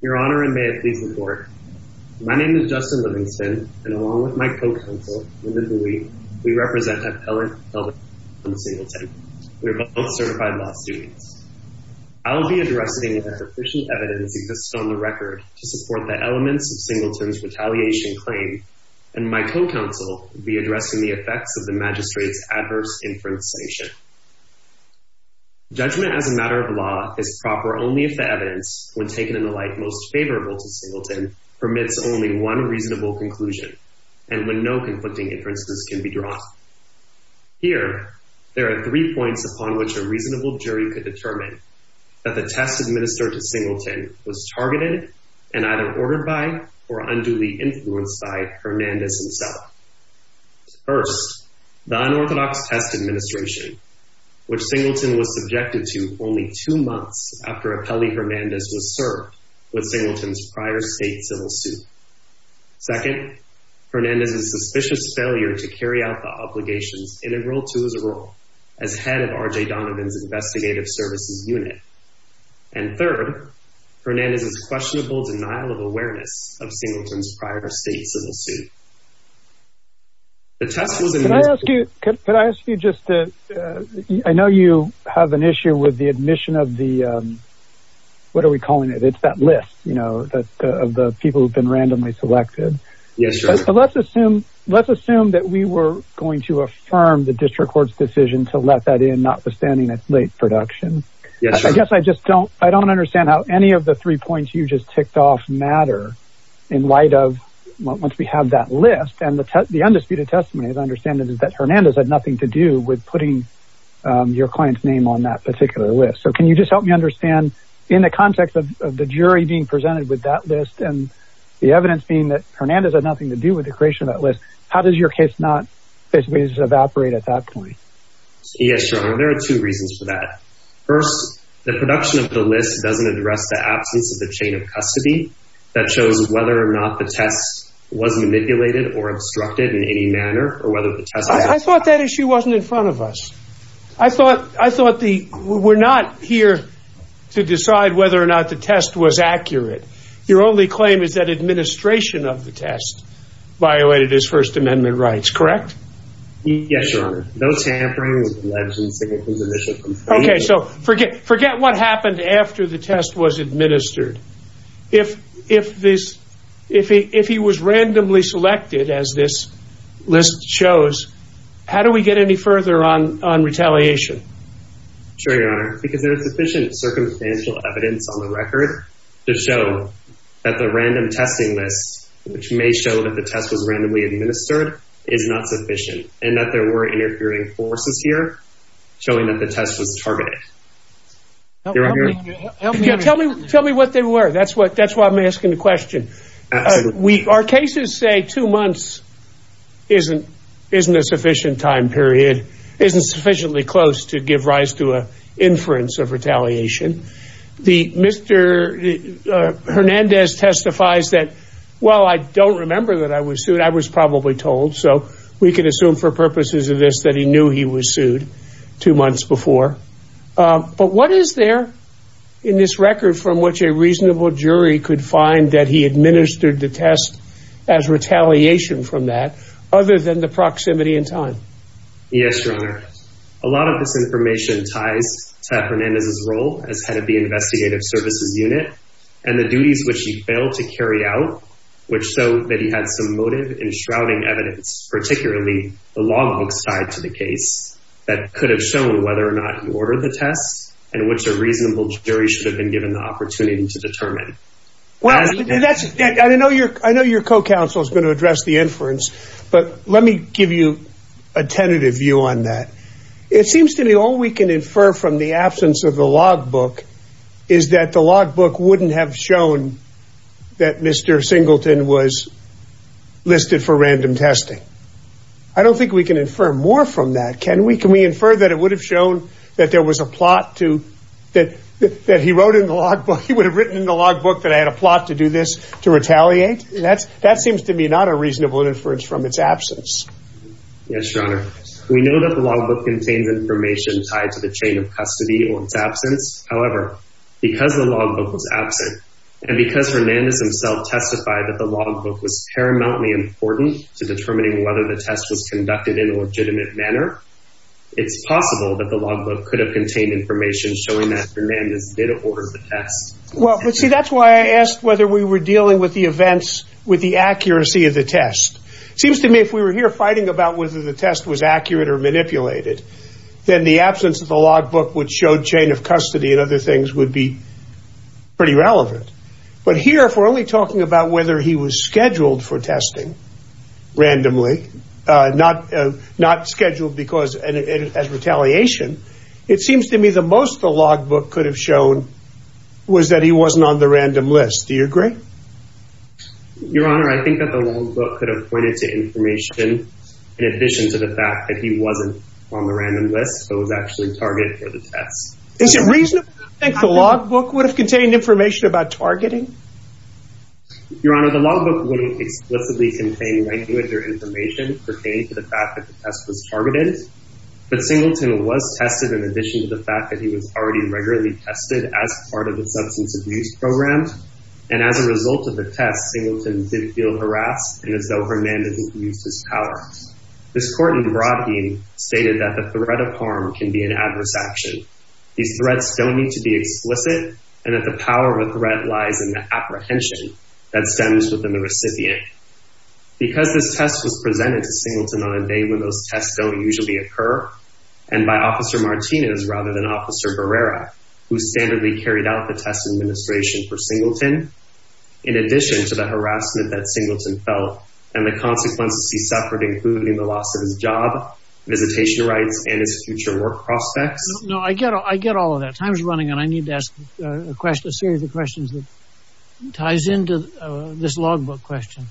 Your Honor, and may it please the court. My name is Justin Livingston, and along with my co-counsel, Linda Dewey, we represent Appellant Kelvin Singleton. We are both certified law students. I'll be addressing if a sufficient evidence exists on the record to support the elements of Singleton's retaliation claim, and my co-counsel will be addressing the effects of the magistrate's adverse inference sanction. Judgment as a matter of law is proper only if the evidence, when taken in the light most favorable to Singleton, permits only one reasonable conclusion, and when no conflicting inferences can be drawn. Here, there are three points upon which a reasonable jury could determine that the test administered to Singleton was targeted and either ordered by or unduly influenced by Hernandez himself. First, the unorthodox test administration, which Singleton was subjected to only two months after Appellee Hernandez was served with Singleton's prior state civil suit. Second, Hernandez's suspicious failure to carry out the obligations integral to his role as head of R.J. Donovan's investigative services unit. And third, Hernandez's questionable denial of awareness of Singleton's prior state civil suit. The test was administered- Can I ask you, could I ask you just to, I know you have an issue with the admission of the, what are we calling it? It's that list, you know, of the people who've been randomly selected. Yes, sir. But let's assume, let's assume that we were going to affirm the district court's decision to let that in, notwithstanding its late production. Yes, sir. I guess I just don't, I don't understand how any of the three points you just picked off matter in light of once we have that list and the, the undisputed testimony, as I understand it, is that Hernandez had nothing to do with putting your client's name on that particular list. So can you just help me understand in the context of the jury being presented with that list and the evidence being that Hernandez had nothing to do with the creation of that list, how does your case not basically just evaporate at that point? Yes, sir. And there are two reasons for that. First, the production of the list doesn't address the absence of the chain of custody that shows whether or not the test was manipulated or obstructed in any manner, or whether the test... I thought that issue wasn't in front of us. I thought, I thought the, we're not here to decide whether or not the test was accurate. Your only claim is that administration of the test violated his first amendment rights, correct? Yes, your honor. No tampering with the legislature's initial... Okay. So forget, forget what happened after the test was administered. If, if this, if he, if he was randomly selected as this list shows, how do we get any further on, on retaliation? Sure, your honor, because there is sufficient circumstantial evidence on the record to show that the random testing list, which may show that the test was randomly administered, is not sufficient and that there were interfering forces here, showing that the test was targeted. Your honor... Tell me, tell me what they were. That's what, that's why I'm asking the question. We, our cases say two months isn't, isn't a sufficient time period, isn't sufficiently close to give rise to a inference of retaliation. The Mr. Hernandez testifies that, well, I don't remember that I was sued. I was probably told, so we can assume for purposes of this, that he knew he was sued two months before. But what is there in this record from which a reasonable jury could find that he administered the test as retaliation from that, other than the proximity in time? Yes, your honor. A lot of this information ties to Hernandez's role as head of the investigative services unit and the duties which he failed to carry out, which showed that he had some motive in shrouding evidence, particularly the logbooks tied to the order of the tests and which a reasonable jury should have been given the opportunity to determine. Well, that's, I know your, I know your co-counsel is going to address the inference, but let me give you a tentative view on that. It seems to me all we can infer from the absence of the logbook is that the logbook wouldn't have shown that Mr. Singleton was listed for random testing. I don't think we can infer more from that. Can we, can we infer that it would have shown that there was a plot to, that he wrote in the logbook, he would have written in the logbook that I had a plot to do this, to retaliate? And that's, that seems to me not a reasonable inference from its absence. Yes, your honor. We know that the logbook contains information tied to the chain of custody or its absence. However, because the logbook was absent and because Hernandez himself testified that the logbook was paramountly important to determining whether the test was it's possible that the logbook could have contained information showing that Hernandez did order the test. Well, let's see. That's why I asked whether we were dealing with the events with the accuracy of the test. It seems to me if we were here fighting about whether the test was accurate or manipulated, then the absence of the logbook would show chain of custody and other things would be pretty relevant. But here, if we're only talking about whether he was scheduled for testing randomly, uh, not, uh, not scheduled because as retaliation, it seems to me the most the logbook could have shown was that he wasn't on the random list. Do you agree? Your honor, I think that the logbook could have pointed to information in addition to the fact that he wasn't on the random list, so it was actually targeted for the test. Is it reasonable to think the logbook would have contained information about targeting? Your honor, the logbook wouldn't explicitly contain language or information pertaining to the fact that the test was targeted, but Singleton was tested in addition to the fact that he was already regularly tested as part of the substance abuse program. And as a result of the test, Singleton did feel harassed and as though Hernandez abused his power. This court in Broadbeam stated that the threat of harm can be an adverse action. These threats don't need to be explicit and that the power of a threat lies in apprehension that stems within the recipient. Because this test was presented to Singleton on a day when those tests don't usually occur and by Officer Martinez rather than Officer Barrera, who standardly carried out the test administration for Singleton, in addition to the harassment that Singleton felt and the consequences he suffered, including the loss of his job, visitation rights, and his future work prospects. No, I get all of that. Time's running and I need to ask a question, a series of questions that ties into this logbook question.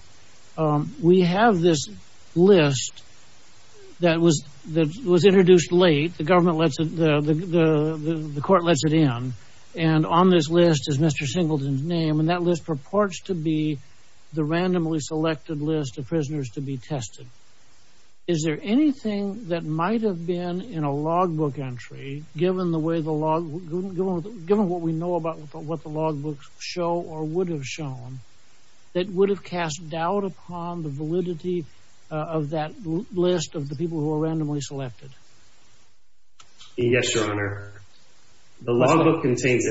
We have this list that was introduced late. The government lets it, the court lets it in. And on this list is Mr. Singleton's name. And that list purports to be the randomly selected list of prisoners to be tested. Is there anything that might have been in a logbook entry, given the way the log, given what we know about what the logbooks show or would have shown, that would have cast doubt upon the validity of that list of the people who are randomly selected? Yes, Your Honor. The logbook contains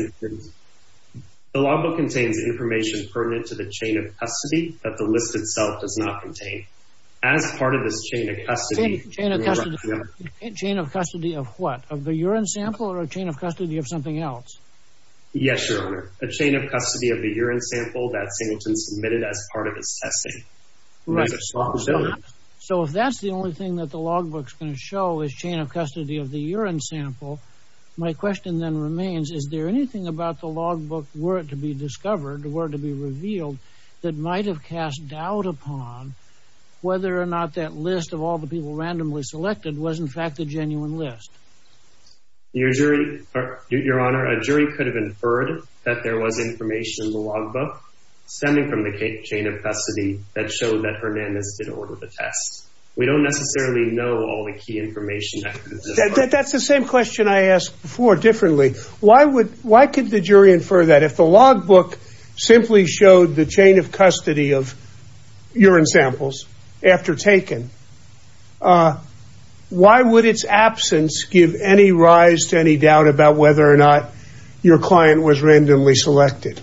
information pertinent to the chain of custody that the list itself does not contain. As part of this chain of custody. Chain of custody of what? Of the urine sample or a chain of custody of something else? Yes, Your Honor. A chain of custody of the urine sample that Singleton submitted as part of his testing. Right. So if that's the only thing that the logbook's going to show is chain of custody of the urine sample. My question then remains, is there anything about the logbook, were it to be discovered, were it to be revealed, that might have cast doubt upon whether or not that list of all the people randomly selected was in fact the genuine list? Your jury, Your Honor, a jury could have inferred that there was information in the logbook stemming from the chain of custody that showed that Hernandez did order the test. We don't necessarily know all the key information. That's the same question I asked before differently. Why would, why could the jury infer that if the logbook simply showed the chain of custody, would there be any rise to any doubt about whether or not your client was randomly selected?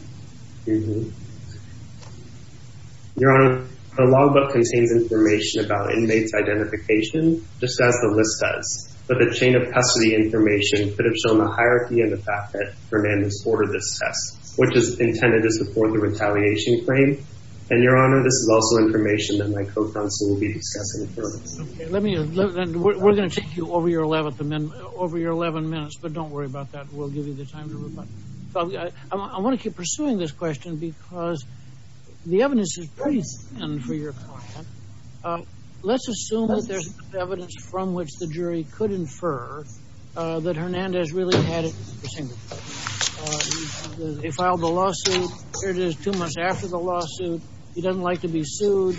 Your Honor, the logbook contains information about inmates' identification, just as the list does, but the chain of custody information could have shown the hierarchy and the fact that Hernandez ordered this test, which is intended to support the retaliation claim. And Your Honor, this is also information that my co-counsel will be discussing further. Let me, we're going to take you over your 11th amendment, over your 11 minutes, but don't worry about that. We'll give you the time to reply. I want to keep pursuing this question because the evidence is pretty thin for your client. Let's assume that there's evidence from which the jury could infer that Hernandez really had it. They filed the lawsuit, here it is two months after the lawsuit. He doesn't like to be sued.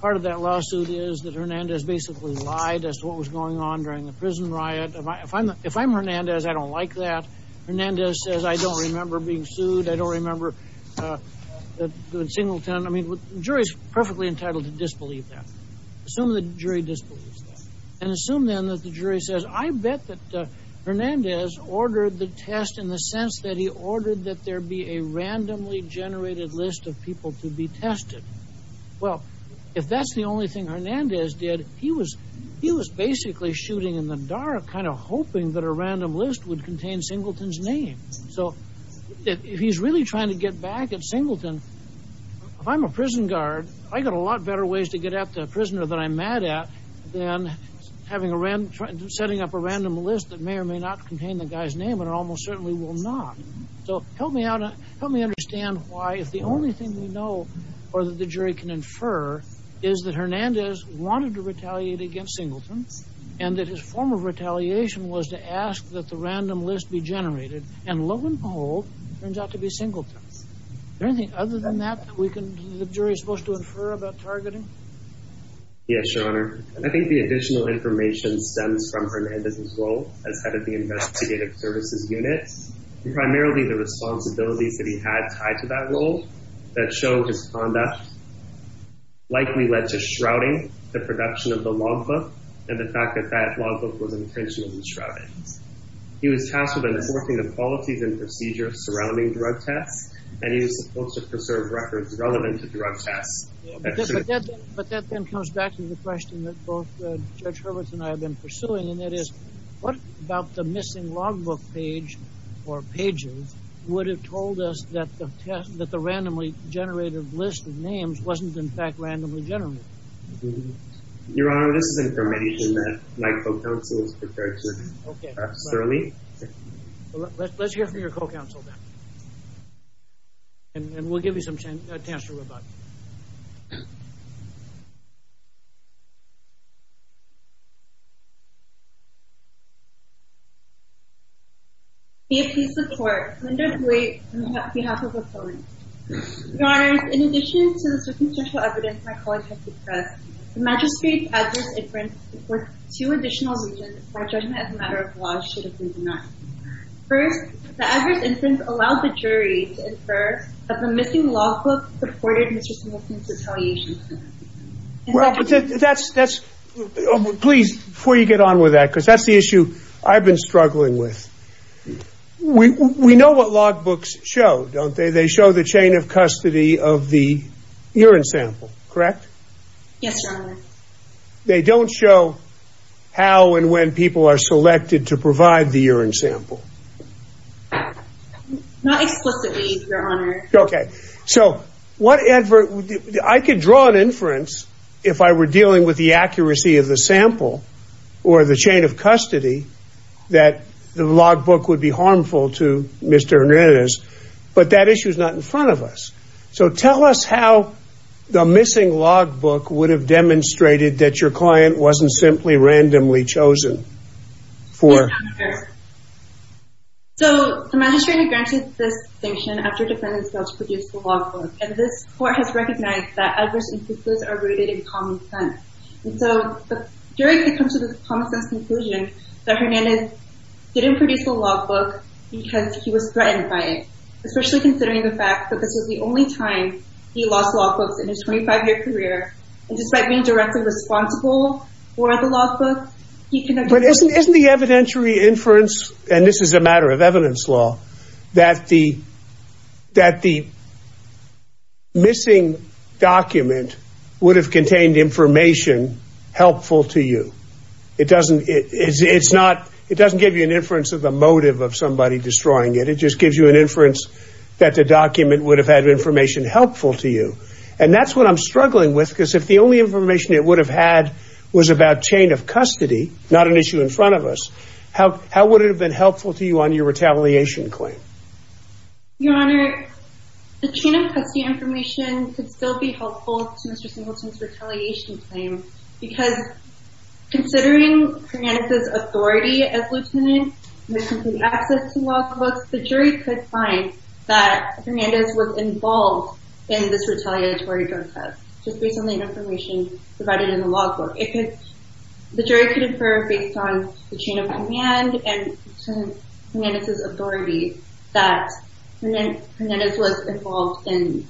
Part of that lawsuit is that Hernandez basically lied as to what was going on during the prison riot. If I'm Hernandez, I don't like that. Hernandez says, I don't remember being sued. I don't remember doing singleton. I mean, the jury's perfectly entitled to disbelieve that. Assume the jury disbelieves that. And assume then that the jury says, I bet that Hernandez ordered the test in the sense that he ordered that there be a randomly generated list of people to be tested. Well, if that's the only thing Hernandez did, he was, he was basically shooting in the dark, kind of hoping that a random list would contain Singleton's name. So if he's really trying to get back at Singleton, if I'm a prison guard, I got a lot better ways to get at the prisoner that I'm mad at than having a random, setting up a random list that may or may not contain the guy's name and almost certainly will not. So help me out. Help me understand why if the only thing we know or that the jury can infer is that Hernandez wanted to retaliate against Singleton and that his form of retaliation was to ask that the random list be generated. And lo and behold, it turns out to be Singleton. Is there anything other than that that we can, that the jury is supposed to infer about targeting? Yes, your honor. I think the additional information stems from Hernandez's role as head of the investigative services unit. Primarily the responsibilities that he had tied to that role that show his conduct likely led to shrouding the production of the logbook and the fact that that logbook was intentionally shrouded. He was tasked with enforcing the qualities and procedures surrounding drug tests, and he was supposed to preserve records relevant to drug tests. But that then comes back to the question that both Judge Hurwitz and I have been or pages would have told us that the test, that the randomly generated list of names wasn't in fact randomly generated. Your honor, this is information that my co-counsel is prepared to certainly. Let's hear from your co-counsel. And we'll give you some chance to answer about. Please support Linda Blake on behalf of the court. Your honor, in addition to the circumstantial evidence my colleague has expressed, the magistrate's adverse inference supports two additional reasons why judgment as a matter of law should have been denied. First, the adverse inference allowed the jury to infer that the missing logbook supported Mr. Smith's retaliation. Well, that's, that's, please, before you get on with that, because that's the issue I've been struggling with. We, we know what logbooks show, don't they? They show the chain of custody of the urine sample, correct? Yes, your honor. They don't show how and when people are selected to provide the urine sample. Not explicitly, your honor. Okay. So, what advert, I could draw an inference if I were dealing with the accuracy of the sample or the chain of custody that the logbook would be harmful to Mr. Hernandez, but that issue is not in front of us. So tell us how the missing logbook would have demonstrated that your client wasn't simply randomly chosen for. Your honor, so the magistrate had granted this distinction after defendants failed to produce the logbook, and this court has recognized that adverse inferences are rooted in common sense. And so, the jury could come to this common sense conclusion that Hernandez didn't produce the logbook because he was threatened by it, especially considering the fact that this was the only time he lost logbooks in his 25 year career, and despite being directly responsible for the logbook, he could the evidentiary inference, and this is a matter of evidence law, that the missing document would have contained information helpful to you. It doesn't, it's not, it doesn't give you an inference of the motive of somebody destroying it. It just gives you an inference that the document would have had information helpful to you. And that's what I'm struggling with, because if the only information it would have had was about chain of custody, not an issue in front of us, how would it have been helpful to you on your retaliation claim? Your honor, the chain of custody information could still be helpful to Mr. Singleton's retaliation claim, because considering Hernandez's authority as lieutenant, and his complete access to logbooks, the jury could find that Hernandez was involved in this retaliatory drug test, just based on the information provided in the logbook. If the jury could infer based on the chain of command and Hernandez's authority, that Hernandez was involved in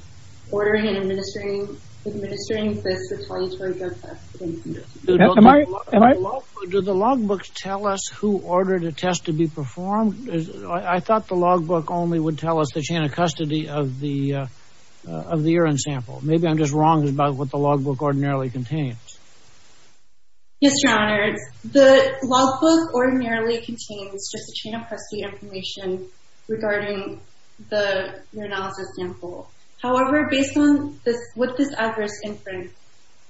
ordering and administering this retaliatory drug test. Do the logbooks tell us who ordered a test to be performed? I thought the logbook only would tell us the chain of custody of the urine sample. Maybe I'm just wrong about what the logbook ordinarily contains. Yes, your honor, the logbook ordinarily contains just the chain of custody information regarding the urinalysis sample. However, based on what this adverse inference,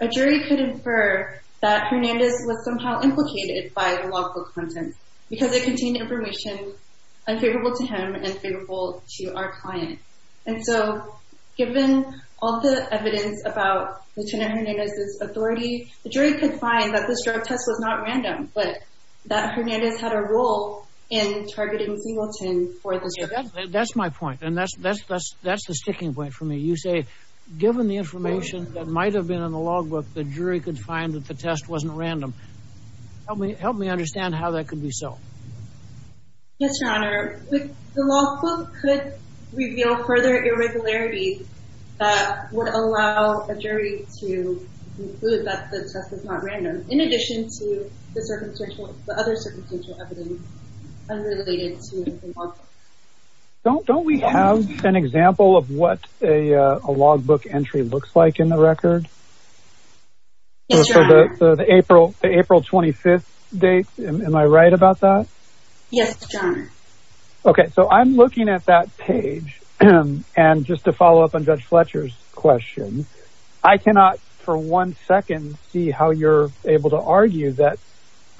a jury could infer that Hernandez was somehow implicated by the logbook content, because it contained information unfavorable to him and unfavorable to our client. And so given all the evidence about lieutenant Hernandez's authority, the jury could find that this drug test was not random, but that Hernandez had a role in targeting Singleton for this drug test. That's my point. And that's, that's, that's, that's the sticking point for me. You say, given the information that might've been in the logbook, the jury could find that the test wasn't random. Help me, help me understand how that could be so. Yes, your honor. The logbook could reveal further irregularities that would allow a jury to conclude that the test was not random, in addition to the circumstantial, the other circumstantial evidence unrelated to the logbook. Don't, don't we have an example of what a, a logbook entry looks like in the record? Yes, your honor. So the April, the April 25th date, am I right about that? Yes, your honor. Okay. So I'm looking at that page and just to follow up on judge Fletcher's question, I cannot for one second, see how you're able to argue that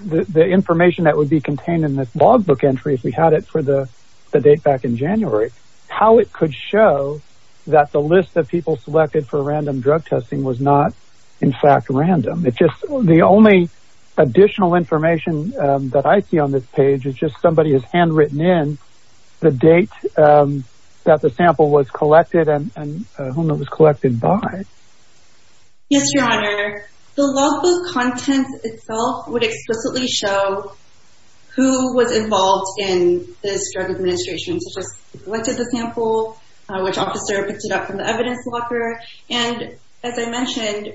the information that would be contained in this logbook entry, if we had it for the, the date back in January, how it could show that the list of people selected for random drug testing was not in fact random. It just, the only additional information that I see on this page is just somebody has handwritten in the date that the sample was collected and whom it was collected by. Yes, your honor. The logbook contents itself would explicitly show who was involved in this drug administration, such as who collected the sample, which officer picked it up from the evidence locker. And as I mentioned,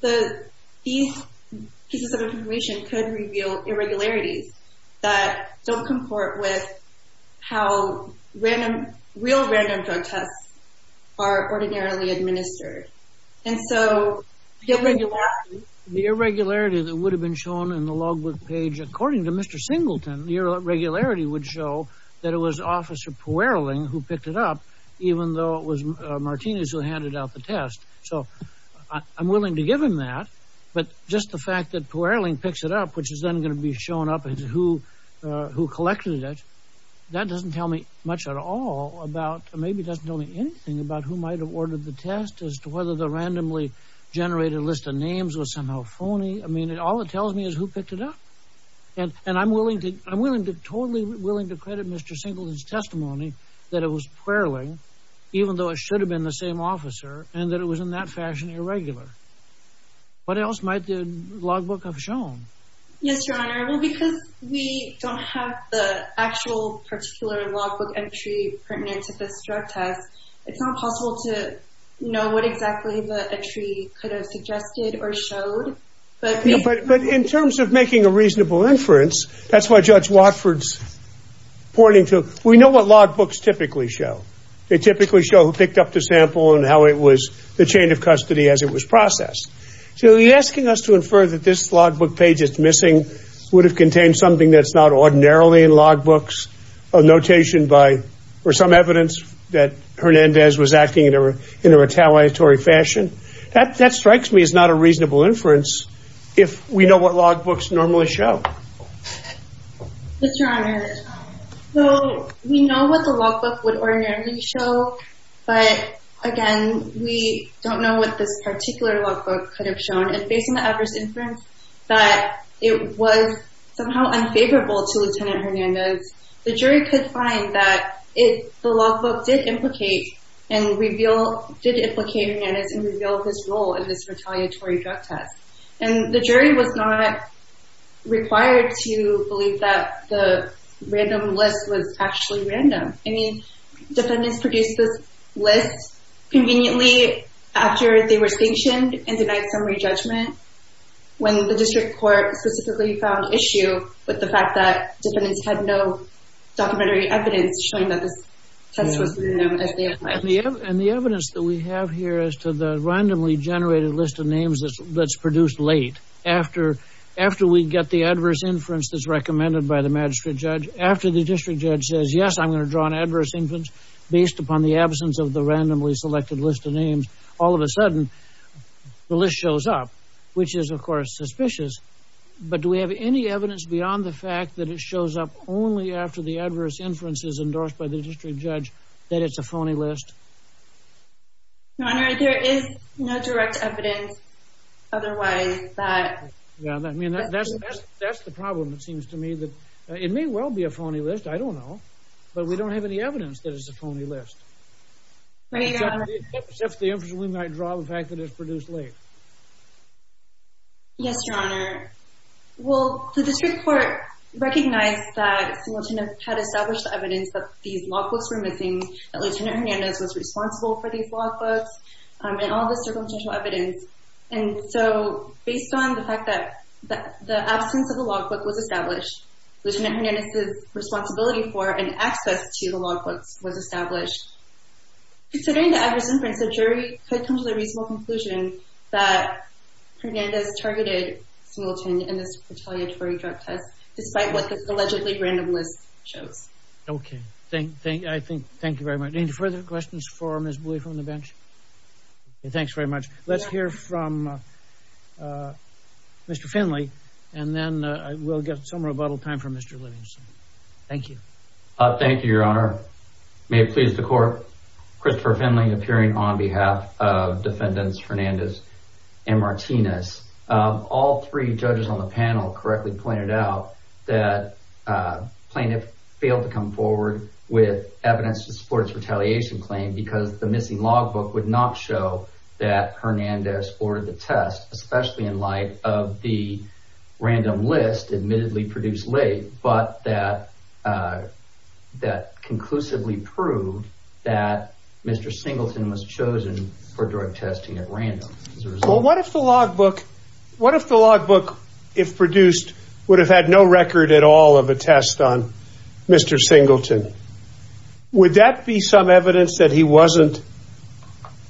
the, these pieces of information could reveal irregularities that don't comport with how random, real random drug tests are ordinarily administered. And so the irregularity that would have been shown in the logbook page, according to Mr. Singleton, your regularity would show that it was officer Puerling who picked it up, even though it was Martinez who handed out the test. So I'm willing to give him that, but just the fact that Puerling picks it up, which is then going to be shown up as who, uh, who collected it. That doesn't tell me much at all about, maybe it doesn't tell me anything about who might've ordered the test as to whether the randomly generated list of names was somehow phony. I mean, all it tells me is who picked it up and, and I'm willing to, I'm willing to totally willing to credit Mr. Singleton's testimony that it was Puerling, even though it should have been the same officer and that it was in that fashion, irregular. What else might the logbook have shown? Yes, Your Honor. Well, because we don't have the actual particular logbook entry pertinent to this drug test, it's not possible to know what exactly the entry could have suggested or showed. But in terms of making a reasonable inference, that's why Judge Watford's pointing to, we know what logbooks typically show. They typically show who picked up the sample and how it was the chain of custody as it was processed. So you're asking us to infer that this logbook page that's missing would have contained something that's not ordinarily in logbooks, a notation by, or some evidence that Hernandez was acting in a retaliatory fashion. That, that strikes me as not a reasonable inference if we know what logbooks normally show. Mr. Honor, so we know what the logbook would ordinarily show, but again, we don't know what this particular logbook could have shown. And based on the adverse inference that it was somehow unfavorable to Lieutenant Hernandez, the jury could find that it, the logbook did implicate and reveal, did implicate Hernandez and reveal his role in this retaliatory drug test. And the jury was not required to believe that the random list was actually random. I mean, defendants produced this list conveniently after they were sanctioned and denied summary judgment when the district court specifically found issue with the fact that defendants had no documentary evidence showing that this test was as they had pledged. And the evidence that we have here as to the randomly generated list of names that's produced late after, after we get the adverse inference that's recommended by the magistrate judge, after the district judge says, yes, I'm going to draw an adverse inference based upon the absence of the randomly selected list of names, all of a sudden the list shows up, which is of course suspicious. But do we have any evidence beyond the fact that it shows up only after the adverse inferences endorsed by the district judge, that it's a phony list? Your Honor, there is no direct evidence otherwise that. Yeah, I mean, that's, that's, that's the problem. It seems to me that it may well be a phony list. I don't know, but we don't have any evidence that it's a phony list. If the inference we might draw the fact that it's produced late. Yes, Your Honor. Well, the district court recognized that the lieutenant had established the evidence that these logbooks were missing, that Lieutenant Hernandez was responsible for these logbooks and all this circumstantial evidence. And so based on the fact that the absence of the logbook was established, Lieutenant Hernandez's responsibility for and access to the logbooks was established, considering the adverse inference, the jury could come to the reasonable conclusion that Hernandez targeted Smilton in this retaliatory drug test, despite what the allegedly random list shows. Okay. Thank, thank, I think, thank you very much. Any further questions for Ms. Bui from the bench? Thanks very much. Let's hear from Mr. Finley, and then we'll get some rebuttal time from Mr. Livingston. Thank you. Thank you, Your Honor. May it please the court, Christopher Finley appearing on behalf of Defendants Fernandez and Martinez. All three judges on the panel correctly pointed out that plaintiff failed to come forward with evidence to support his retaliation claim because the missing logbook would not show that Hernandez ordered the test, especially in light of the random list admittedly produced late, but that conclusively proved that Mr. Singleton was chosen for drug testing at random. Well, what if the logbook, if produced, would have had no record at all of a test on Mr. Singleton? Would that be some evidence that he wasn't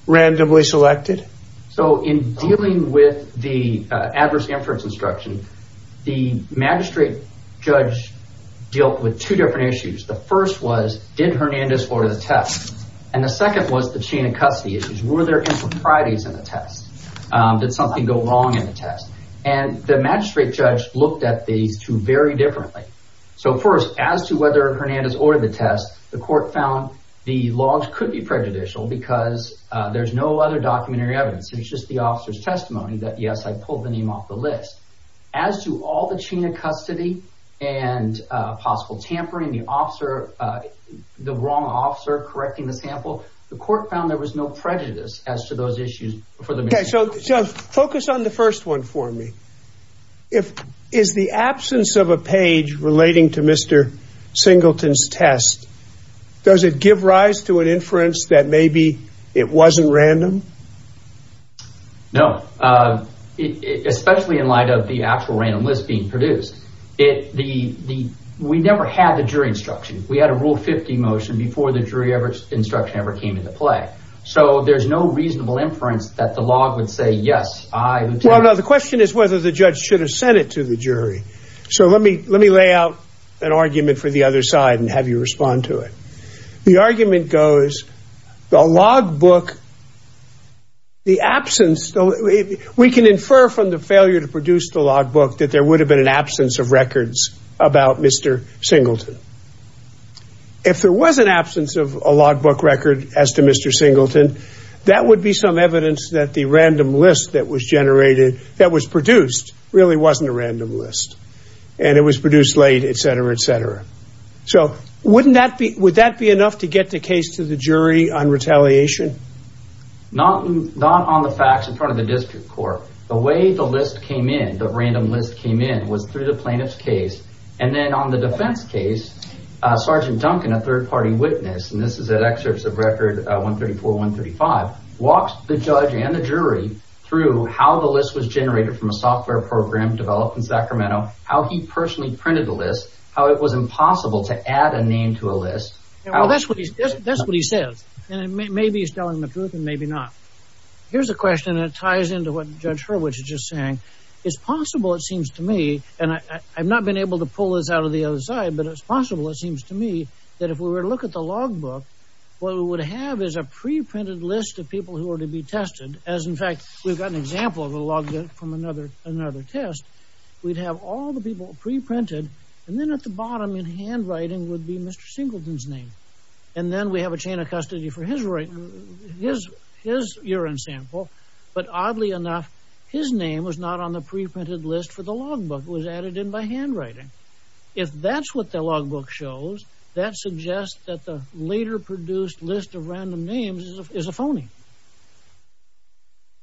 randomly selected? So in dealing with the adverse inference instruction, the magistrate judge dealt with two different issues. The first was, did Hernandez order the test? And the second was the chain of custody issues. Were there improprieties in the test? Did something go wrong in the test? And the magistrate judge looked at these two very differently. So first, as to whether Hernandez ordered the test, the court found the logs could be prejudicial because there's no other documentary evidence. It was just the officer's testimony that, yes, I pulled the name off the list. As to all the chain of custody and possible tampering, the officer, the wrong officer correcting the sample, the court found there was no prejudice as to those issues for the... Okay, so focus on the first one for me. If, is the absence of a page relating to Mr. Singleton's test, does it give rise to an inference that maybe it wasn't random? No, especially in light of the actual random list being produced. It, the, the, we never had the jury instruction. We had a rule 50 motion before the jury ever, instruction ever came into play. So there's no reasonable inference that the log would say, yes, I would say... Well, no, the question is whether the judge should have sent it to the jury. So let me, let me lay out an argument for the other side and have you respond to it. The argument goes, the log book, the absence, we can infer from the failure to produce the log book that there would have been an absence of records about Mr. Singleton. If there was an absence of a log book record as to Mr. Singleton, that would be some evidence that the random list that was generated, that was produced really wasn't a random list and it was produced late, et cetera, et cetera. So wouldn't that be, would that be enough to get the case to the jury on retaliation? Not, not on the facts in front of the district court. The way the list came in, the random list came in was through the plaintiff's case. And then on the defense case, Sergeant Duncan, a third party witness, and this is at excerpts of record 134, 135, walks the judge and the jury through how the list was generated from a software program developed in Sacramento, how he personally printed the list, how it was impossible to add a name to a list. Well, that's what he says. And maybe he's telling the truth and maybe not. Here's a question that ties into what Judge Hurwitz is just saying. It's possible, it seems to me, and I've not been able to pull this out of the other side, but it's possible, it seems to me, that if we were to look at the logbook, what we would have is a pre-printed list of people who are to be tested, as in fact, we've got an example of a logbook from another, another test. We'd have all the people pre-printed and then at the bottom in handwriting would be Mr. Singleton's name. And then we have a chain of custody for his urine sample. But oddly enough, his name was not on the pre-printed list for the logbook. It was added in by handwriting. If that's what the logbook shows, that suggests that the later produced list of random names is a phony.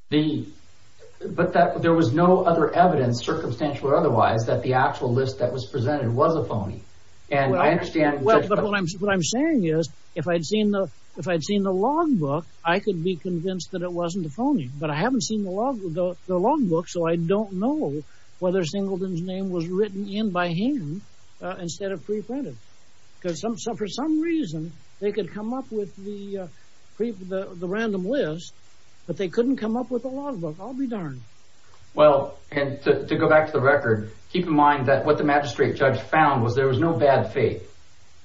But there was no other evidence, circumstantial or otherwise, that the actual list that was presented was a phony. And I understand what I'm saying is, if I'd seen the logbook, I could be convinced that it wasn't a phony. But I haven't seen the logbook, so I don't know whether Singleton's written in by hand instead of pre-printed, because for some reason they could come up with the random list, but they couldn't come up with a logbook. I'll be darned. Well, and to go back to the record, keep in mind that what the magistrate judge found was there was no bad faith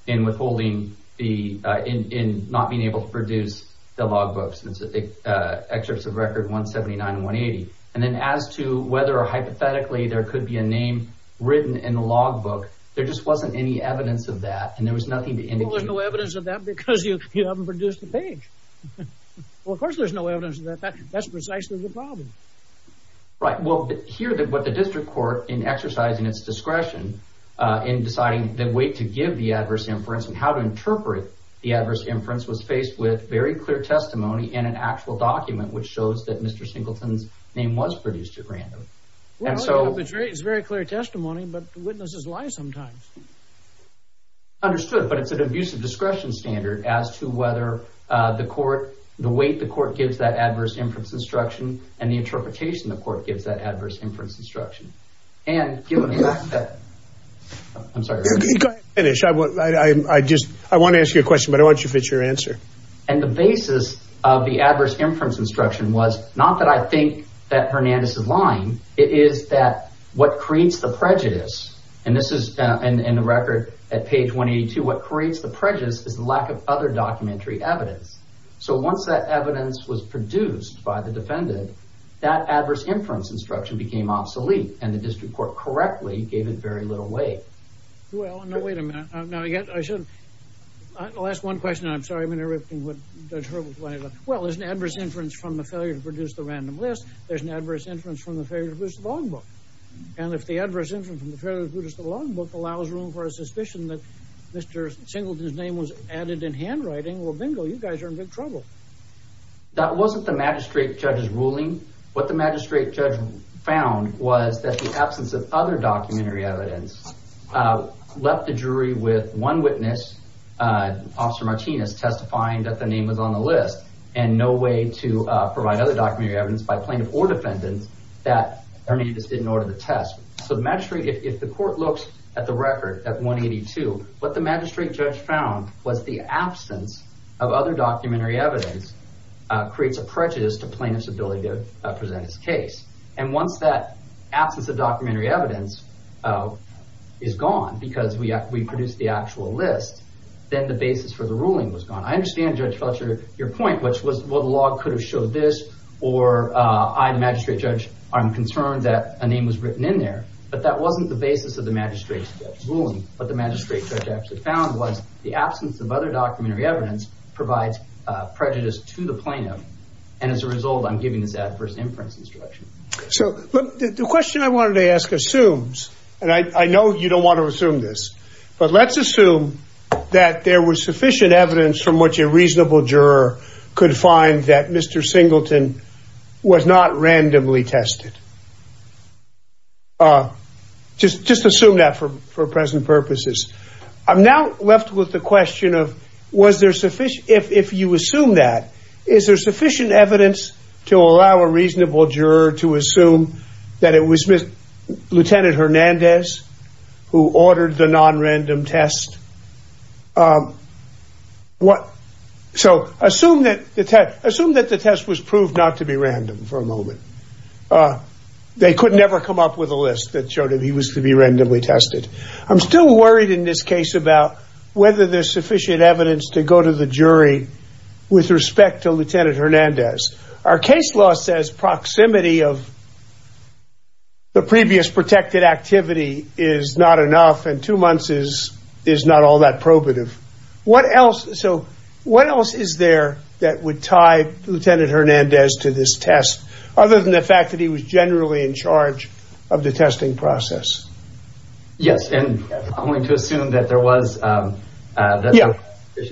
in withholding the, in not being able to produce the logbooks, the excerpts of record 179 and 180. And then as to whether or hypothetically there could be a name written in the logbook, there just wasn't any evidence of that. And there was nothing to indicate. Well, there's no evidence of that because you haven't produced the page. Well, of course, there's no evidence of that. That's precisely the problem. Right. Well, here, what the district court, in exercising its discretion in deciding the way to give the adverse inference and how to interpret the adverse inference, was faced with very clear testimony in an actual document, which shows that Mr. Singleton's name was produced at random. And so it's very clear testimony, but witnesses lie sometimes. Understood, but it's an abusive discretion standard as to whether the court, the weight the court gives that adverse inference instruction and the interpretation the court gives that adverse inference instruction. And given the fact that, I'm sorry. Finish. I just I want to ask you a question, but I want you to fit your answer. And the basis of the adverse inference instruction was not that I think that Hernandez is lying. It is that what creates the prejudice. And this is in the record at page 182. What creates the prejudice is the lack of other documentary evidence. So once that evidence was produced by the defendant, that adverse inference instruction became obsolete and the district court correctly gave it very little weight. Well, no, wait a minute. Now, again, I said the last one question, I'm sorry. I mean, everything would. Well, there's an adverse inference from the failure to produce the random list. There's an adverse inference from the failure to produce the logbook. And if the adverse inference from the failure to produce the logbook allows room for a suspicion that Mr. Singleton's name was added in handwriting, well, bingo, you guys are in big trouble. That wasn't the magistrate judge's ruling. What the magistrate judge found was that the absence of other documentary evidence left the jury with one witness, Officer Martinez, testifying that the name was on the list and no way to provide other documentary evidence by plaintiff or defendant that Hernandez didn't order the test. So the magistrate, if the court looks at the record at 182, what the magistrate judge found was the absence of other documentary evidence creates a prejudice to plaintiff's ability to present his case. And once that absence of documentary evidence is gone because we produced the actual list, then the basis for the ruling was gone. I understand, Judge Fletcher, your point, which was, well, the log could have showed this or I, the magistrate judge, I'm concerned that a name was written in there. But that wasn't the basis of the magistrate's ruling. What the magistrate judge actually found was the absence of other documentary evidence provides prejudice to the plaintiff. And as a result, I'm giving this adverse inference instruction. So the question I wanted to ask assumes and I know you don't want to assume this, but let's assume that there was sufficient evidence from which a reasonable juror could find that Mr. Singleton was not randomly tested. Just just assume that for for present purposes, I'm now left with the question of was there sufficient if you assume that is there sufficient evidence to allow a reasonable juror to assume that it was Lieutenant Hernandez who ordered the nonrandom test? What? So assume that the test assume that the test was proved not to be random for a moment. They could never come up with a list that showed him he was to be randomly tested. I'm still worried in this case about whether there's sufficient evidence to go to the jury with respect to Lieutenant Hernandez. Our case law says proximity of. The previous protected activity is not enough and two months is is not all that probative. What else? So what else is there that would tie Lieutenant Hernandez to this test other than the fact that he was generally in charge of the testing process? Yes. And I'm going to assume that there was the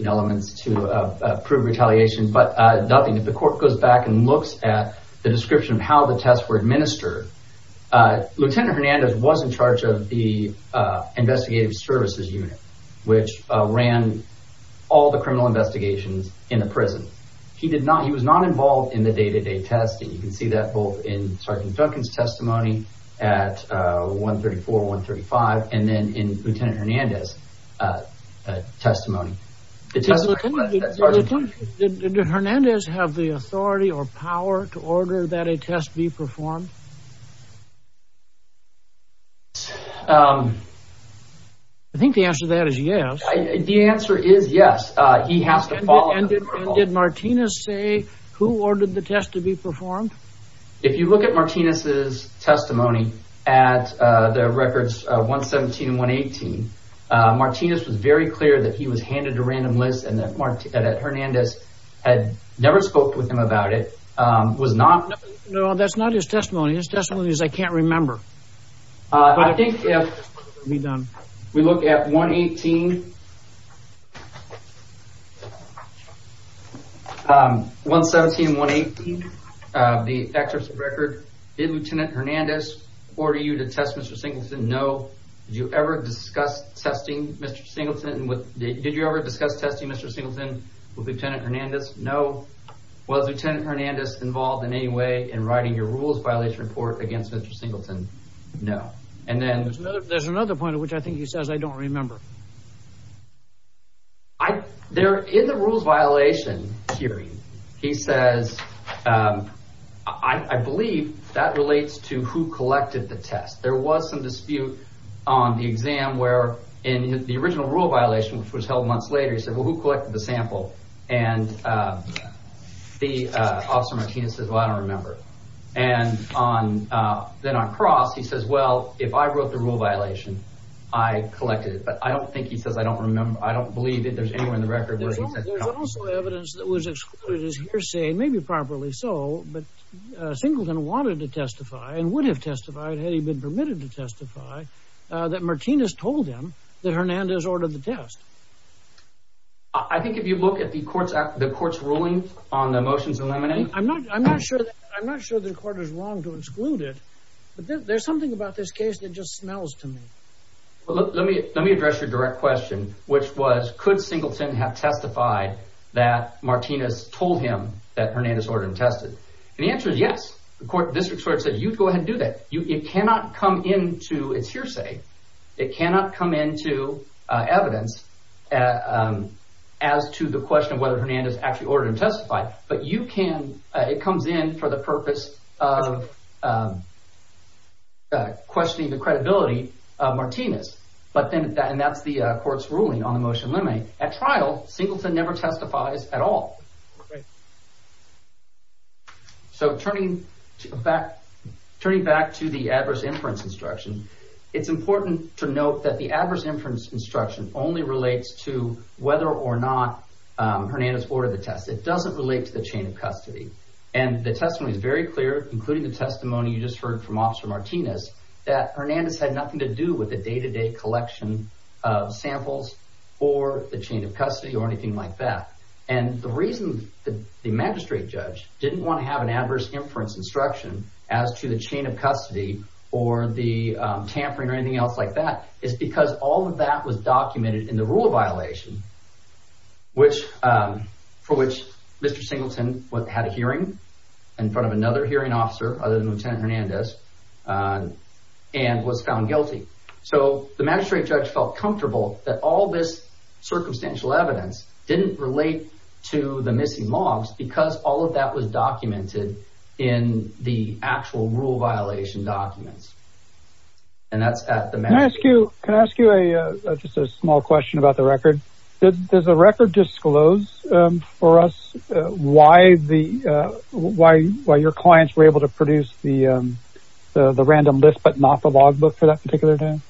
elements to prove retaliation. But nothing. If the court goes back and looks at the description of how the tests were administered, Lieutenant Hernandez was in charge of the investigative services unit, which ran all the criminal investigations in the prison. He did not. He was not involved in the day to day testing. You can see that both in Sergeant Duncan's testimony at one thirty four, one thirty five and then in Lieutenant Hernandez testimony. It doesn't look like that. Hernandez have the authority or power to order that a test be performed. I think the answer to that is, yes, the answer is yes. He has to follow. And did Martinez say who ordered the test to be performed? If you look at Martinez's testimony at the records one seventeen one eighteen, Martinez was very clear that he was handed a random list and that Hernandez had never spoke with him about it, was not. No, that's not his testimony. His testimony is I can't remember. I think if we look at one eighteen, one seventeen, one eighteen, the excerpts of the record, did Lieutenant Hernandez order you to test Mr. Singleton? Did you ever discuss testing Mr. Singleton with Lieutenant Hernandez? No. Was Lieutenant Hernandez involved in any way in writing your rules violation report against Mr. Singleton? No. And then there's another point at which I think he says, I don't remember. I there in the rules violation hearing, he says, I believe that relates to who collected the test. There was some dispute on the exam where in the original rule violation, which was held months later, he said, well, who collected the sample? And the officer Martinez says, well, I don't remember. And on then on cross, he says, well, if I wrote the rule violation, I collected it. But I don't think he says I don't remember. I don't believe that there's anywhere in the record where there's also evidence that was excluded as hearsay, maybe properly so. But Singleton wanted to testify and would have testified had he been permitted to testify that Martinez told him that Hernandez ordered the test. I think if you look at the courts, the court's ruling on the motions eliminate, I'm not I'm not sure. I'm not sure the court is wrong to exclude it. But there's something about this case that just smells to me. Well, let me let me address your direct question, which was, could Singleton have testified that Martinez told him that Hernandez ordered and tested? And the answer is yes. The court district court said, you go ahead and do that. You cannot come into it's hearsay. It cannot come into evidence as to the question of whether Hernandez actually ordered and testified. But you can. It comes in for the purpose of questioning the credibility of Martinez. But then that's the court's ruling on the motion. At trial, Singleton never testifies at all. So turning back, turning back to the adverse inference instruction, it's important to note that the adverse inference instruction only relates to whether or not Hernandez ordered the test. It doesn't relate to the chain of custody. And the testimony is very clear, including the testimony you just heard from Officer Martinez, that Hernandez had nothing to do with the day to day collection of samples or the chain of custody or anything like that. And the reason that the magistrate judge didn't want to have an adverse inference instruction as to the chain of custody or the tampering or anything else like that is because all of that was documented in the rule of violation, for which Mr. Singleton had a hearing in front of another hearing officer other than Lieutenant Hernandez and was found guilty. So the magistrate judge felt comfortable that all this circumstantial evidence didn't relate to the missing logs because all of that was documented in the actual rule violation documents. And that's at the... Can I ask you, can I ask you a just a small question about the record? Does the record disclose for us why the, why, why your clients were able to produce the random list, but not the log book for that particular time?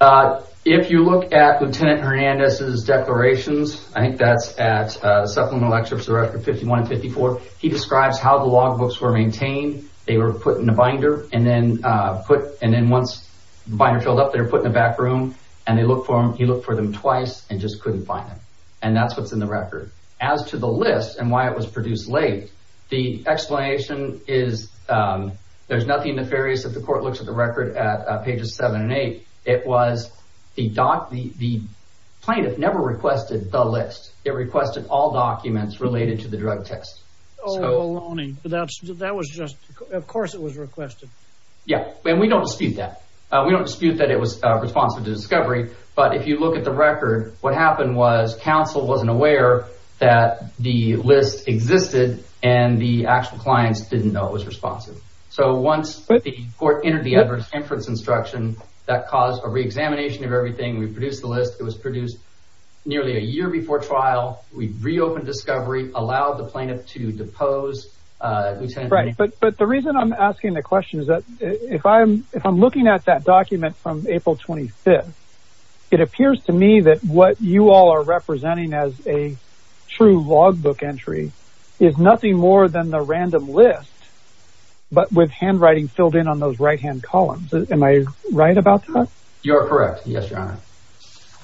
Uh, if you look at Lieutenant Hernandez's declarations, I think that's at a supplemental excerpts of record 51 and 54, he describes how the log books were maintained. They were put in a binder and then, uh, put, and then once the binder filled up, they were put in the back room and they look for him. He looked for them twice and just couldn't find them. And that's, what's in the record. As to the list and why it was produced late, the explanation is, um, there's nothing nefarious if the court looks at the record at pages seven and eight. It was the doc, the plaintiff never requested the list. It requested all documents related to the drug test. Oh, baloney. But that's, that was just, of course it was requested. Yeah. And we don't dispute that. Uh, we don't dispute that it was responsive to discovery, but if you look at the record, what happened was counsel wasn't aware that the list existed and the actual clients didn't know it was responsive. So once the court entered the adverse inference instruction, that caused a reexamination of everything. We produced the list. It was produced nearly a year before trial. We reopened discovery, allowed the plaintiff to depose, uh, right. But, but the reason I'm asking the question is that if I'm, if I'm looking at that document from April 25th, it appears to me that what you all are representing as a true logbook entry is nothing more than the random list, but with handwriting filled in on those right-hand columns. Am I right about that? You're correct. Yes, Your Honor.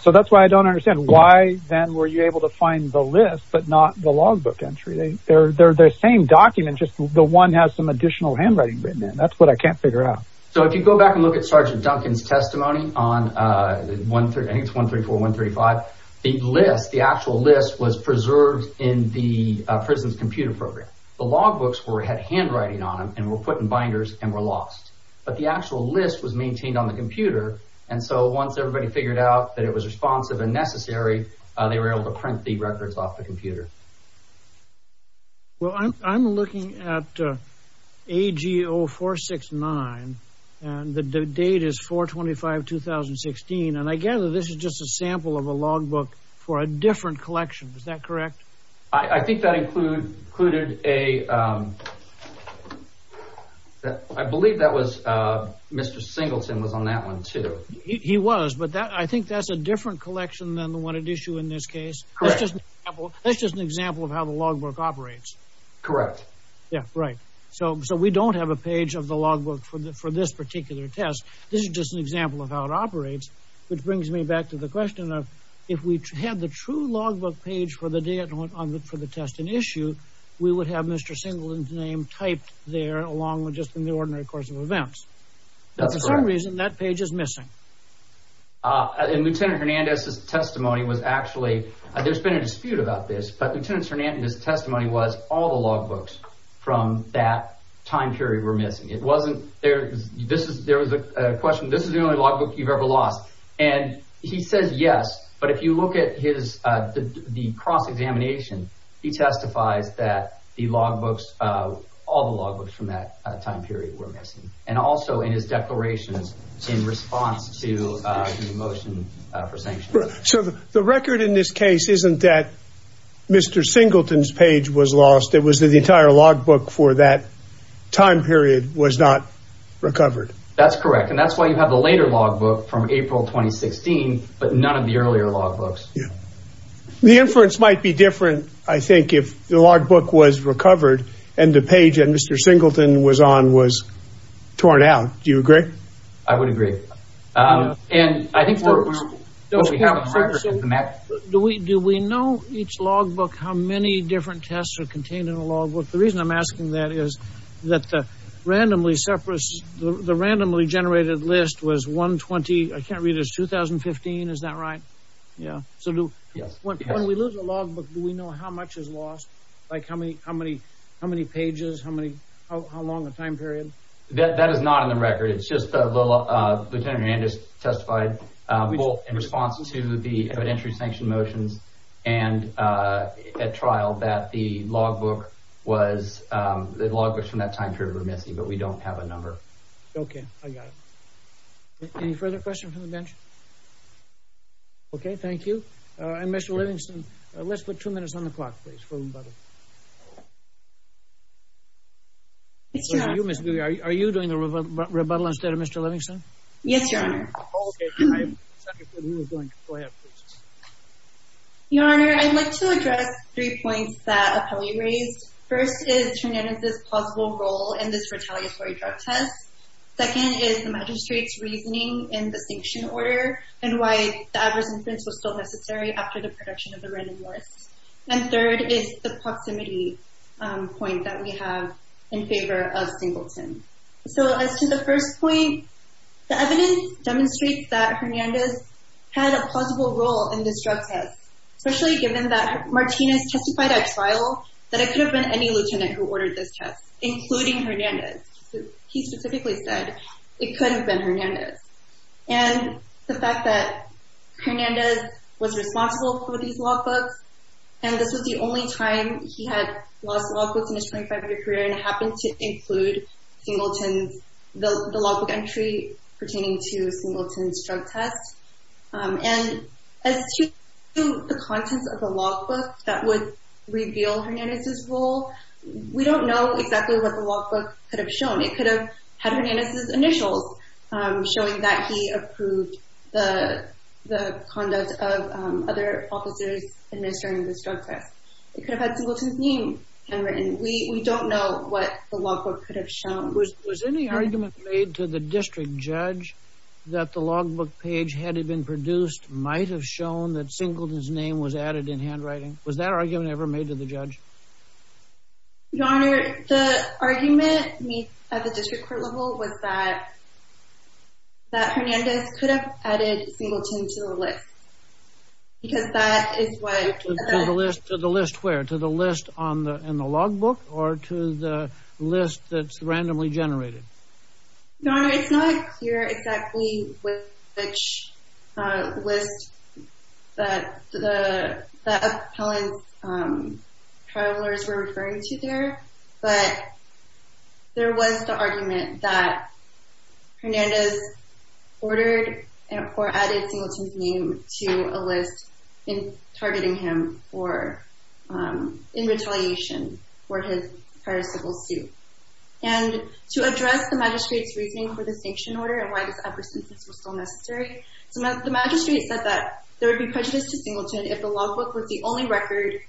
So that's why I don't understand why then were you able to find the list, but not the logbook entry? They, they're, they're the same document. Just the one has some additional handwriting written in. That's what I can't figure out. So if you go back and look at Sergeant Duncan's testimony on, uh, one, three, I think it's one, three, four, one, three, five. The list, the actual list was preserved in the, uh, prison's computer program. The logbooks were, had handwriting on them and were put in binders and were lost, but the actual list was maintained on the computer. And so once everybody figured out that it was responsive and necessary, uh, they were able to print the records off the computer. Well, I'm, I'm looking at, uh, AGO 469 and the date is 4-25-2016. And I gather this is just a sample of a logbook for a different collection. Is that correct? I think that include, included a, um, I believe that was, uh, Mr. Singleton was on that one too. He was, but that, I think that's a different collection than the one at issue in this case. That's just an example of how the logbook operates. Correct. Yeah. Right. So, so we don't have a page of the logbook for the, for this particular test. This is just an example of how it operates. Which brings me back to the question of if we had the true logbook page for the day at home on the, for the test and issue, we would have Mr. Singleton's name typed there along with just in the ordinary course of events. That's for some reason that page is missing. Uh, and Lieutenant Hernandez's testimony was actually, there's been a dispute about this, but Lieutenant Hernandez's testimony was all the logbooks from that time period were missing. It wasn't, there, this is, there was a question. This is the only logbook you've ever lost. And he says, yes, but if you look at his, uh, the, the cross-examination, he testifies that the logbooks, uh, all the logbooks from that time period were missing and also in his declarations in response to, uh, the motion for sanction. So the record in this case, isn't that Mr. Singleton's page was lost. It was the entire logbook for that time period was not recovered. That's correct. And that's why you have the later logbook from April, 2016, but none of the earlier logbooks. Yeah. The inference might be different. I think if the logbook was recovered and the page that Mr. Singleton was on was torn out, do you agree? I would agree. Um, and I think, do we, do we know each logbook, how many different tests are contained in a logbook? The reason I'm asking that is that the randomly separate, the randomly generated list was one 20. I can't read it as 2015. Is that right? Yeah. So when we lose a logbook, do we know how much is lost? Like how many, how many, how many pages, how many, how, how long a time period? That, that is not in the record. It's just a little, uh, lieutenant Hernandez testified, uh, in response to the evidentiary sanction motions. And, uh, at trial that the logbook was, um, the logbooks from that time period were missing, but we don't have a number. Okay. I got it. Any further questions from the bench? Okay. Thank you. Uh, and Mr. Livingston, let's put two minutes on the clock, please. For rebuttal. Mr. Livingston, are you doing the rebuttal instead of Mr. Livingston? Yes, Your Honor. Your Honor, I'd like to address three points that appellee raised. First is, Hernandez's plausible role in this retaliatory drug test. Second is the magistrate's reasoning in the sanction order and why the adverse inference was still necessary after the production of the random worst. And third is the proximity, um, point that we have in favor of Singleton. So as to the first point, the evidence demonstrates that Hernandez had a plausible role in this drug test, especially given that Martinez testified at trial that it could have been any lieutenant who ordered this test, including Hernandez. He specifically said it couldn't have been Hernandez. And the fact that Hernandez was responsible for these logbooks, and this was the only time he had lost logbooks in his 25-year career and it happened to include Singleton's, the logbook entry pertaining to Singleton's drug test. Um, and as to the contents of the logbook that would reveal Hernandez's role, we don't know exactly what the logbook could have shown. It could have had Hernandez's initials, um, showing that he approved the, the conduct of, um, other officers administering this drug test. It could have had Singleton's name handwritten. We, we don't know what the logbook could have shown. Was, was any argument made to the district judge that the logbook page had had been produced might have shown that Singleton's name was added in handwriting? Was that argument ever made to the judge? Your Honor, the argument made at the district court level was that, that Hernandez could have added Singleton to the list, because that is what... To the list, to the list where? To the list on the, in the logbook or to the list that's randomly generated? Your Honor, it's not clear exactly which, uh, list that the, the appellant's, um, appellant's were referring to there, but there was the argument that Hernandez ordered or added Singleton's name to a list in targeting him for, um, in retaliation for his prior civil suit. And to address the magistrate's reasoning for the sanction order and why this appersentence was still necessary, the magistrate said that there would be nothing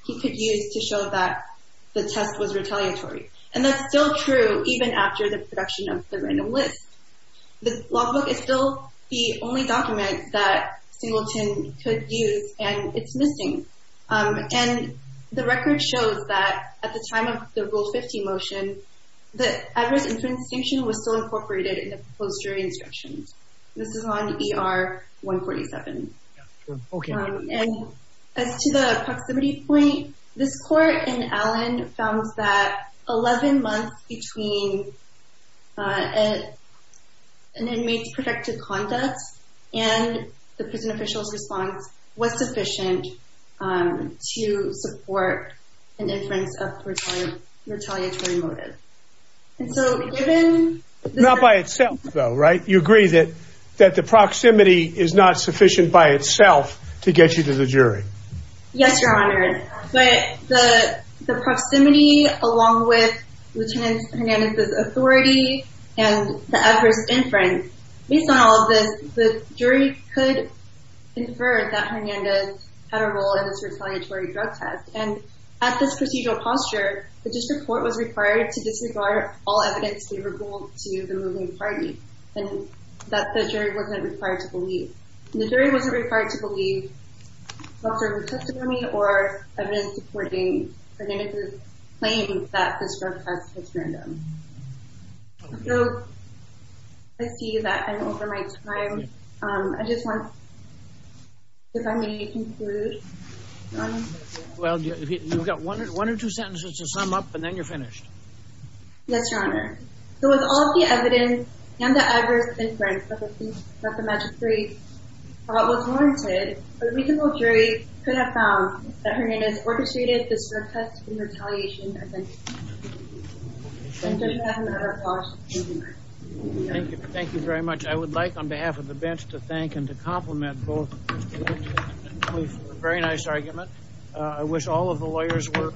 he could use to show that the test was retaliatory. And that's still true even after the production of the random list. The logbook is still the only document that Singleton could use and it's missing. Um, and the record shows that at the time of the rule 15 motion, the address inference sanction was still incorporated in the proposed jury This court in Allen found that 11 months between, uh, an inmate's protective conduct and the prison official's response was sufficient, um, to support an inference of retaliatory motive. And so given... Not by itself though, right? You agree that, that the proximity is not sufficient by itself to get you to the jury? Yes, Your Honor. But the, the proximity along with Lieutenant Hernandez's authority and the adverse inference, based on all of this, the jury could infer that Hernandez had a role in this retaliatory drug test. And at this procedural posture, the district court was required to disregard all evidence favorable to the moving party and that the jury wasn't required to believe. Doctor, the testimony or evidence supporting Hernandez's claim that this drug test was random. So I see that I'm over my time. Um, I just want, if I may conclude. Well, you've got one or two sentences to sum up and then you're finished. Yes, Your Honor. So with all of the evidence and the adverse inference that the magistrate thought was warranted, a reasonable jury could have found that Hernandez orchestrated this drug test in retaliation. Thank you. Thank you very much. I would like, on behalf of the bench, to thank and to compliment both, very nice argument. Uh, I wish all of the lawyers were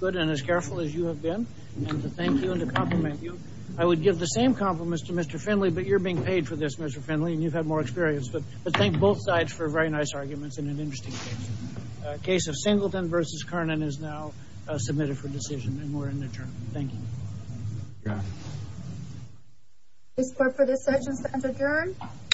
good and as careful as you have been. And to thank you and to compliment you. I would give the same compliments to Mr. Finley, but you're being paid for this, Mr. Finley, and you've had more experience. But thank both sides for very nice arguments and an interesting case. A case of Singleton versus Kernan is now submitted for decision and we're in the adjournment. Thank you. This court for this session stands adjourned.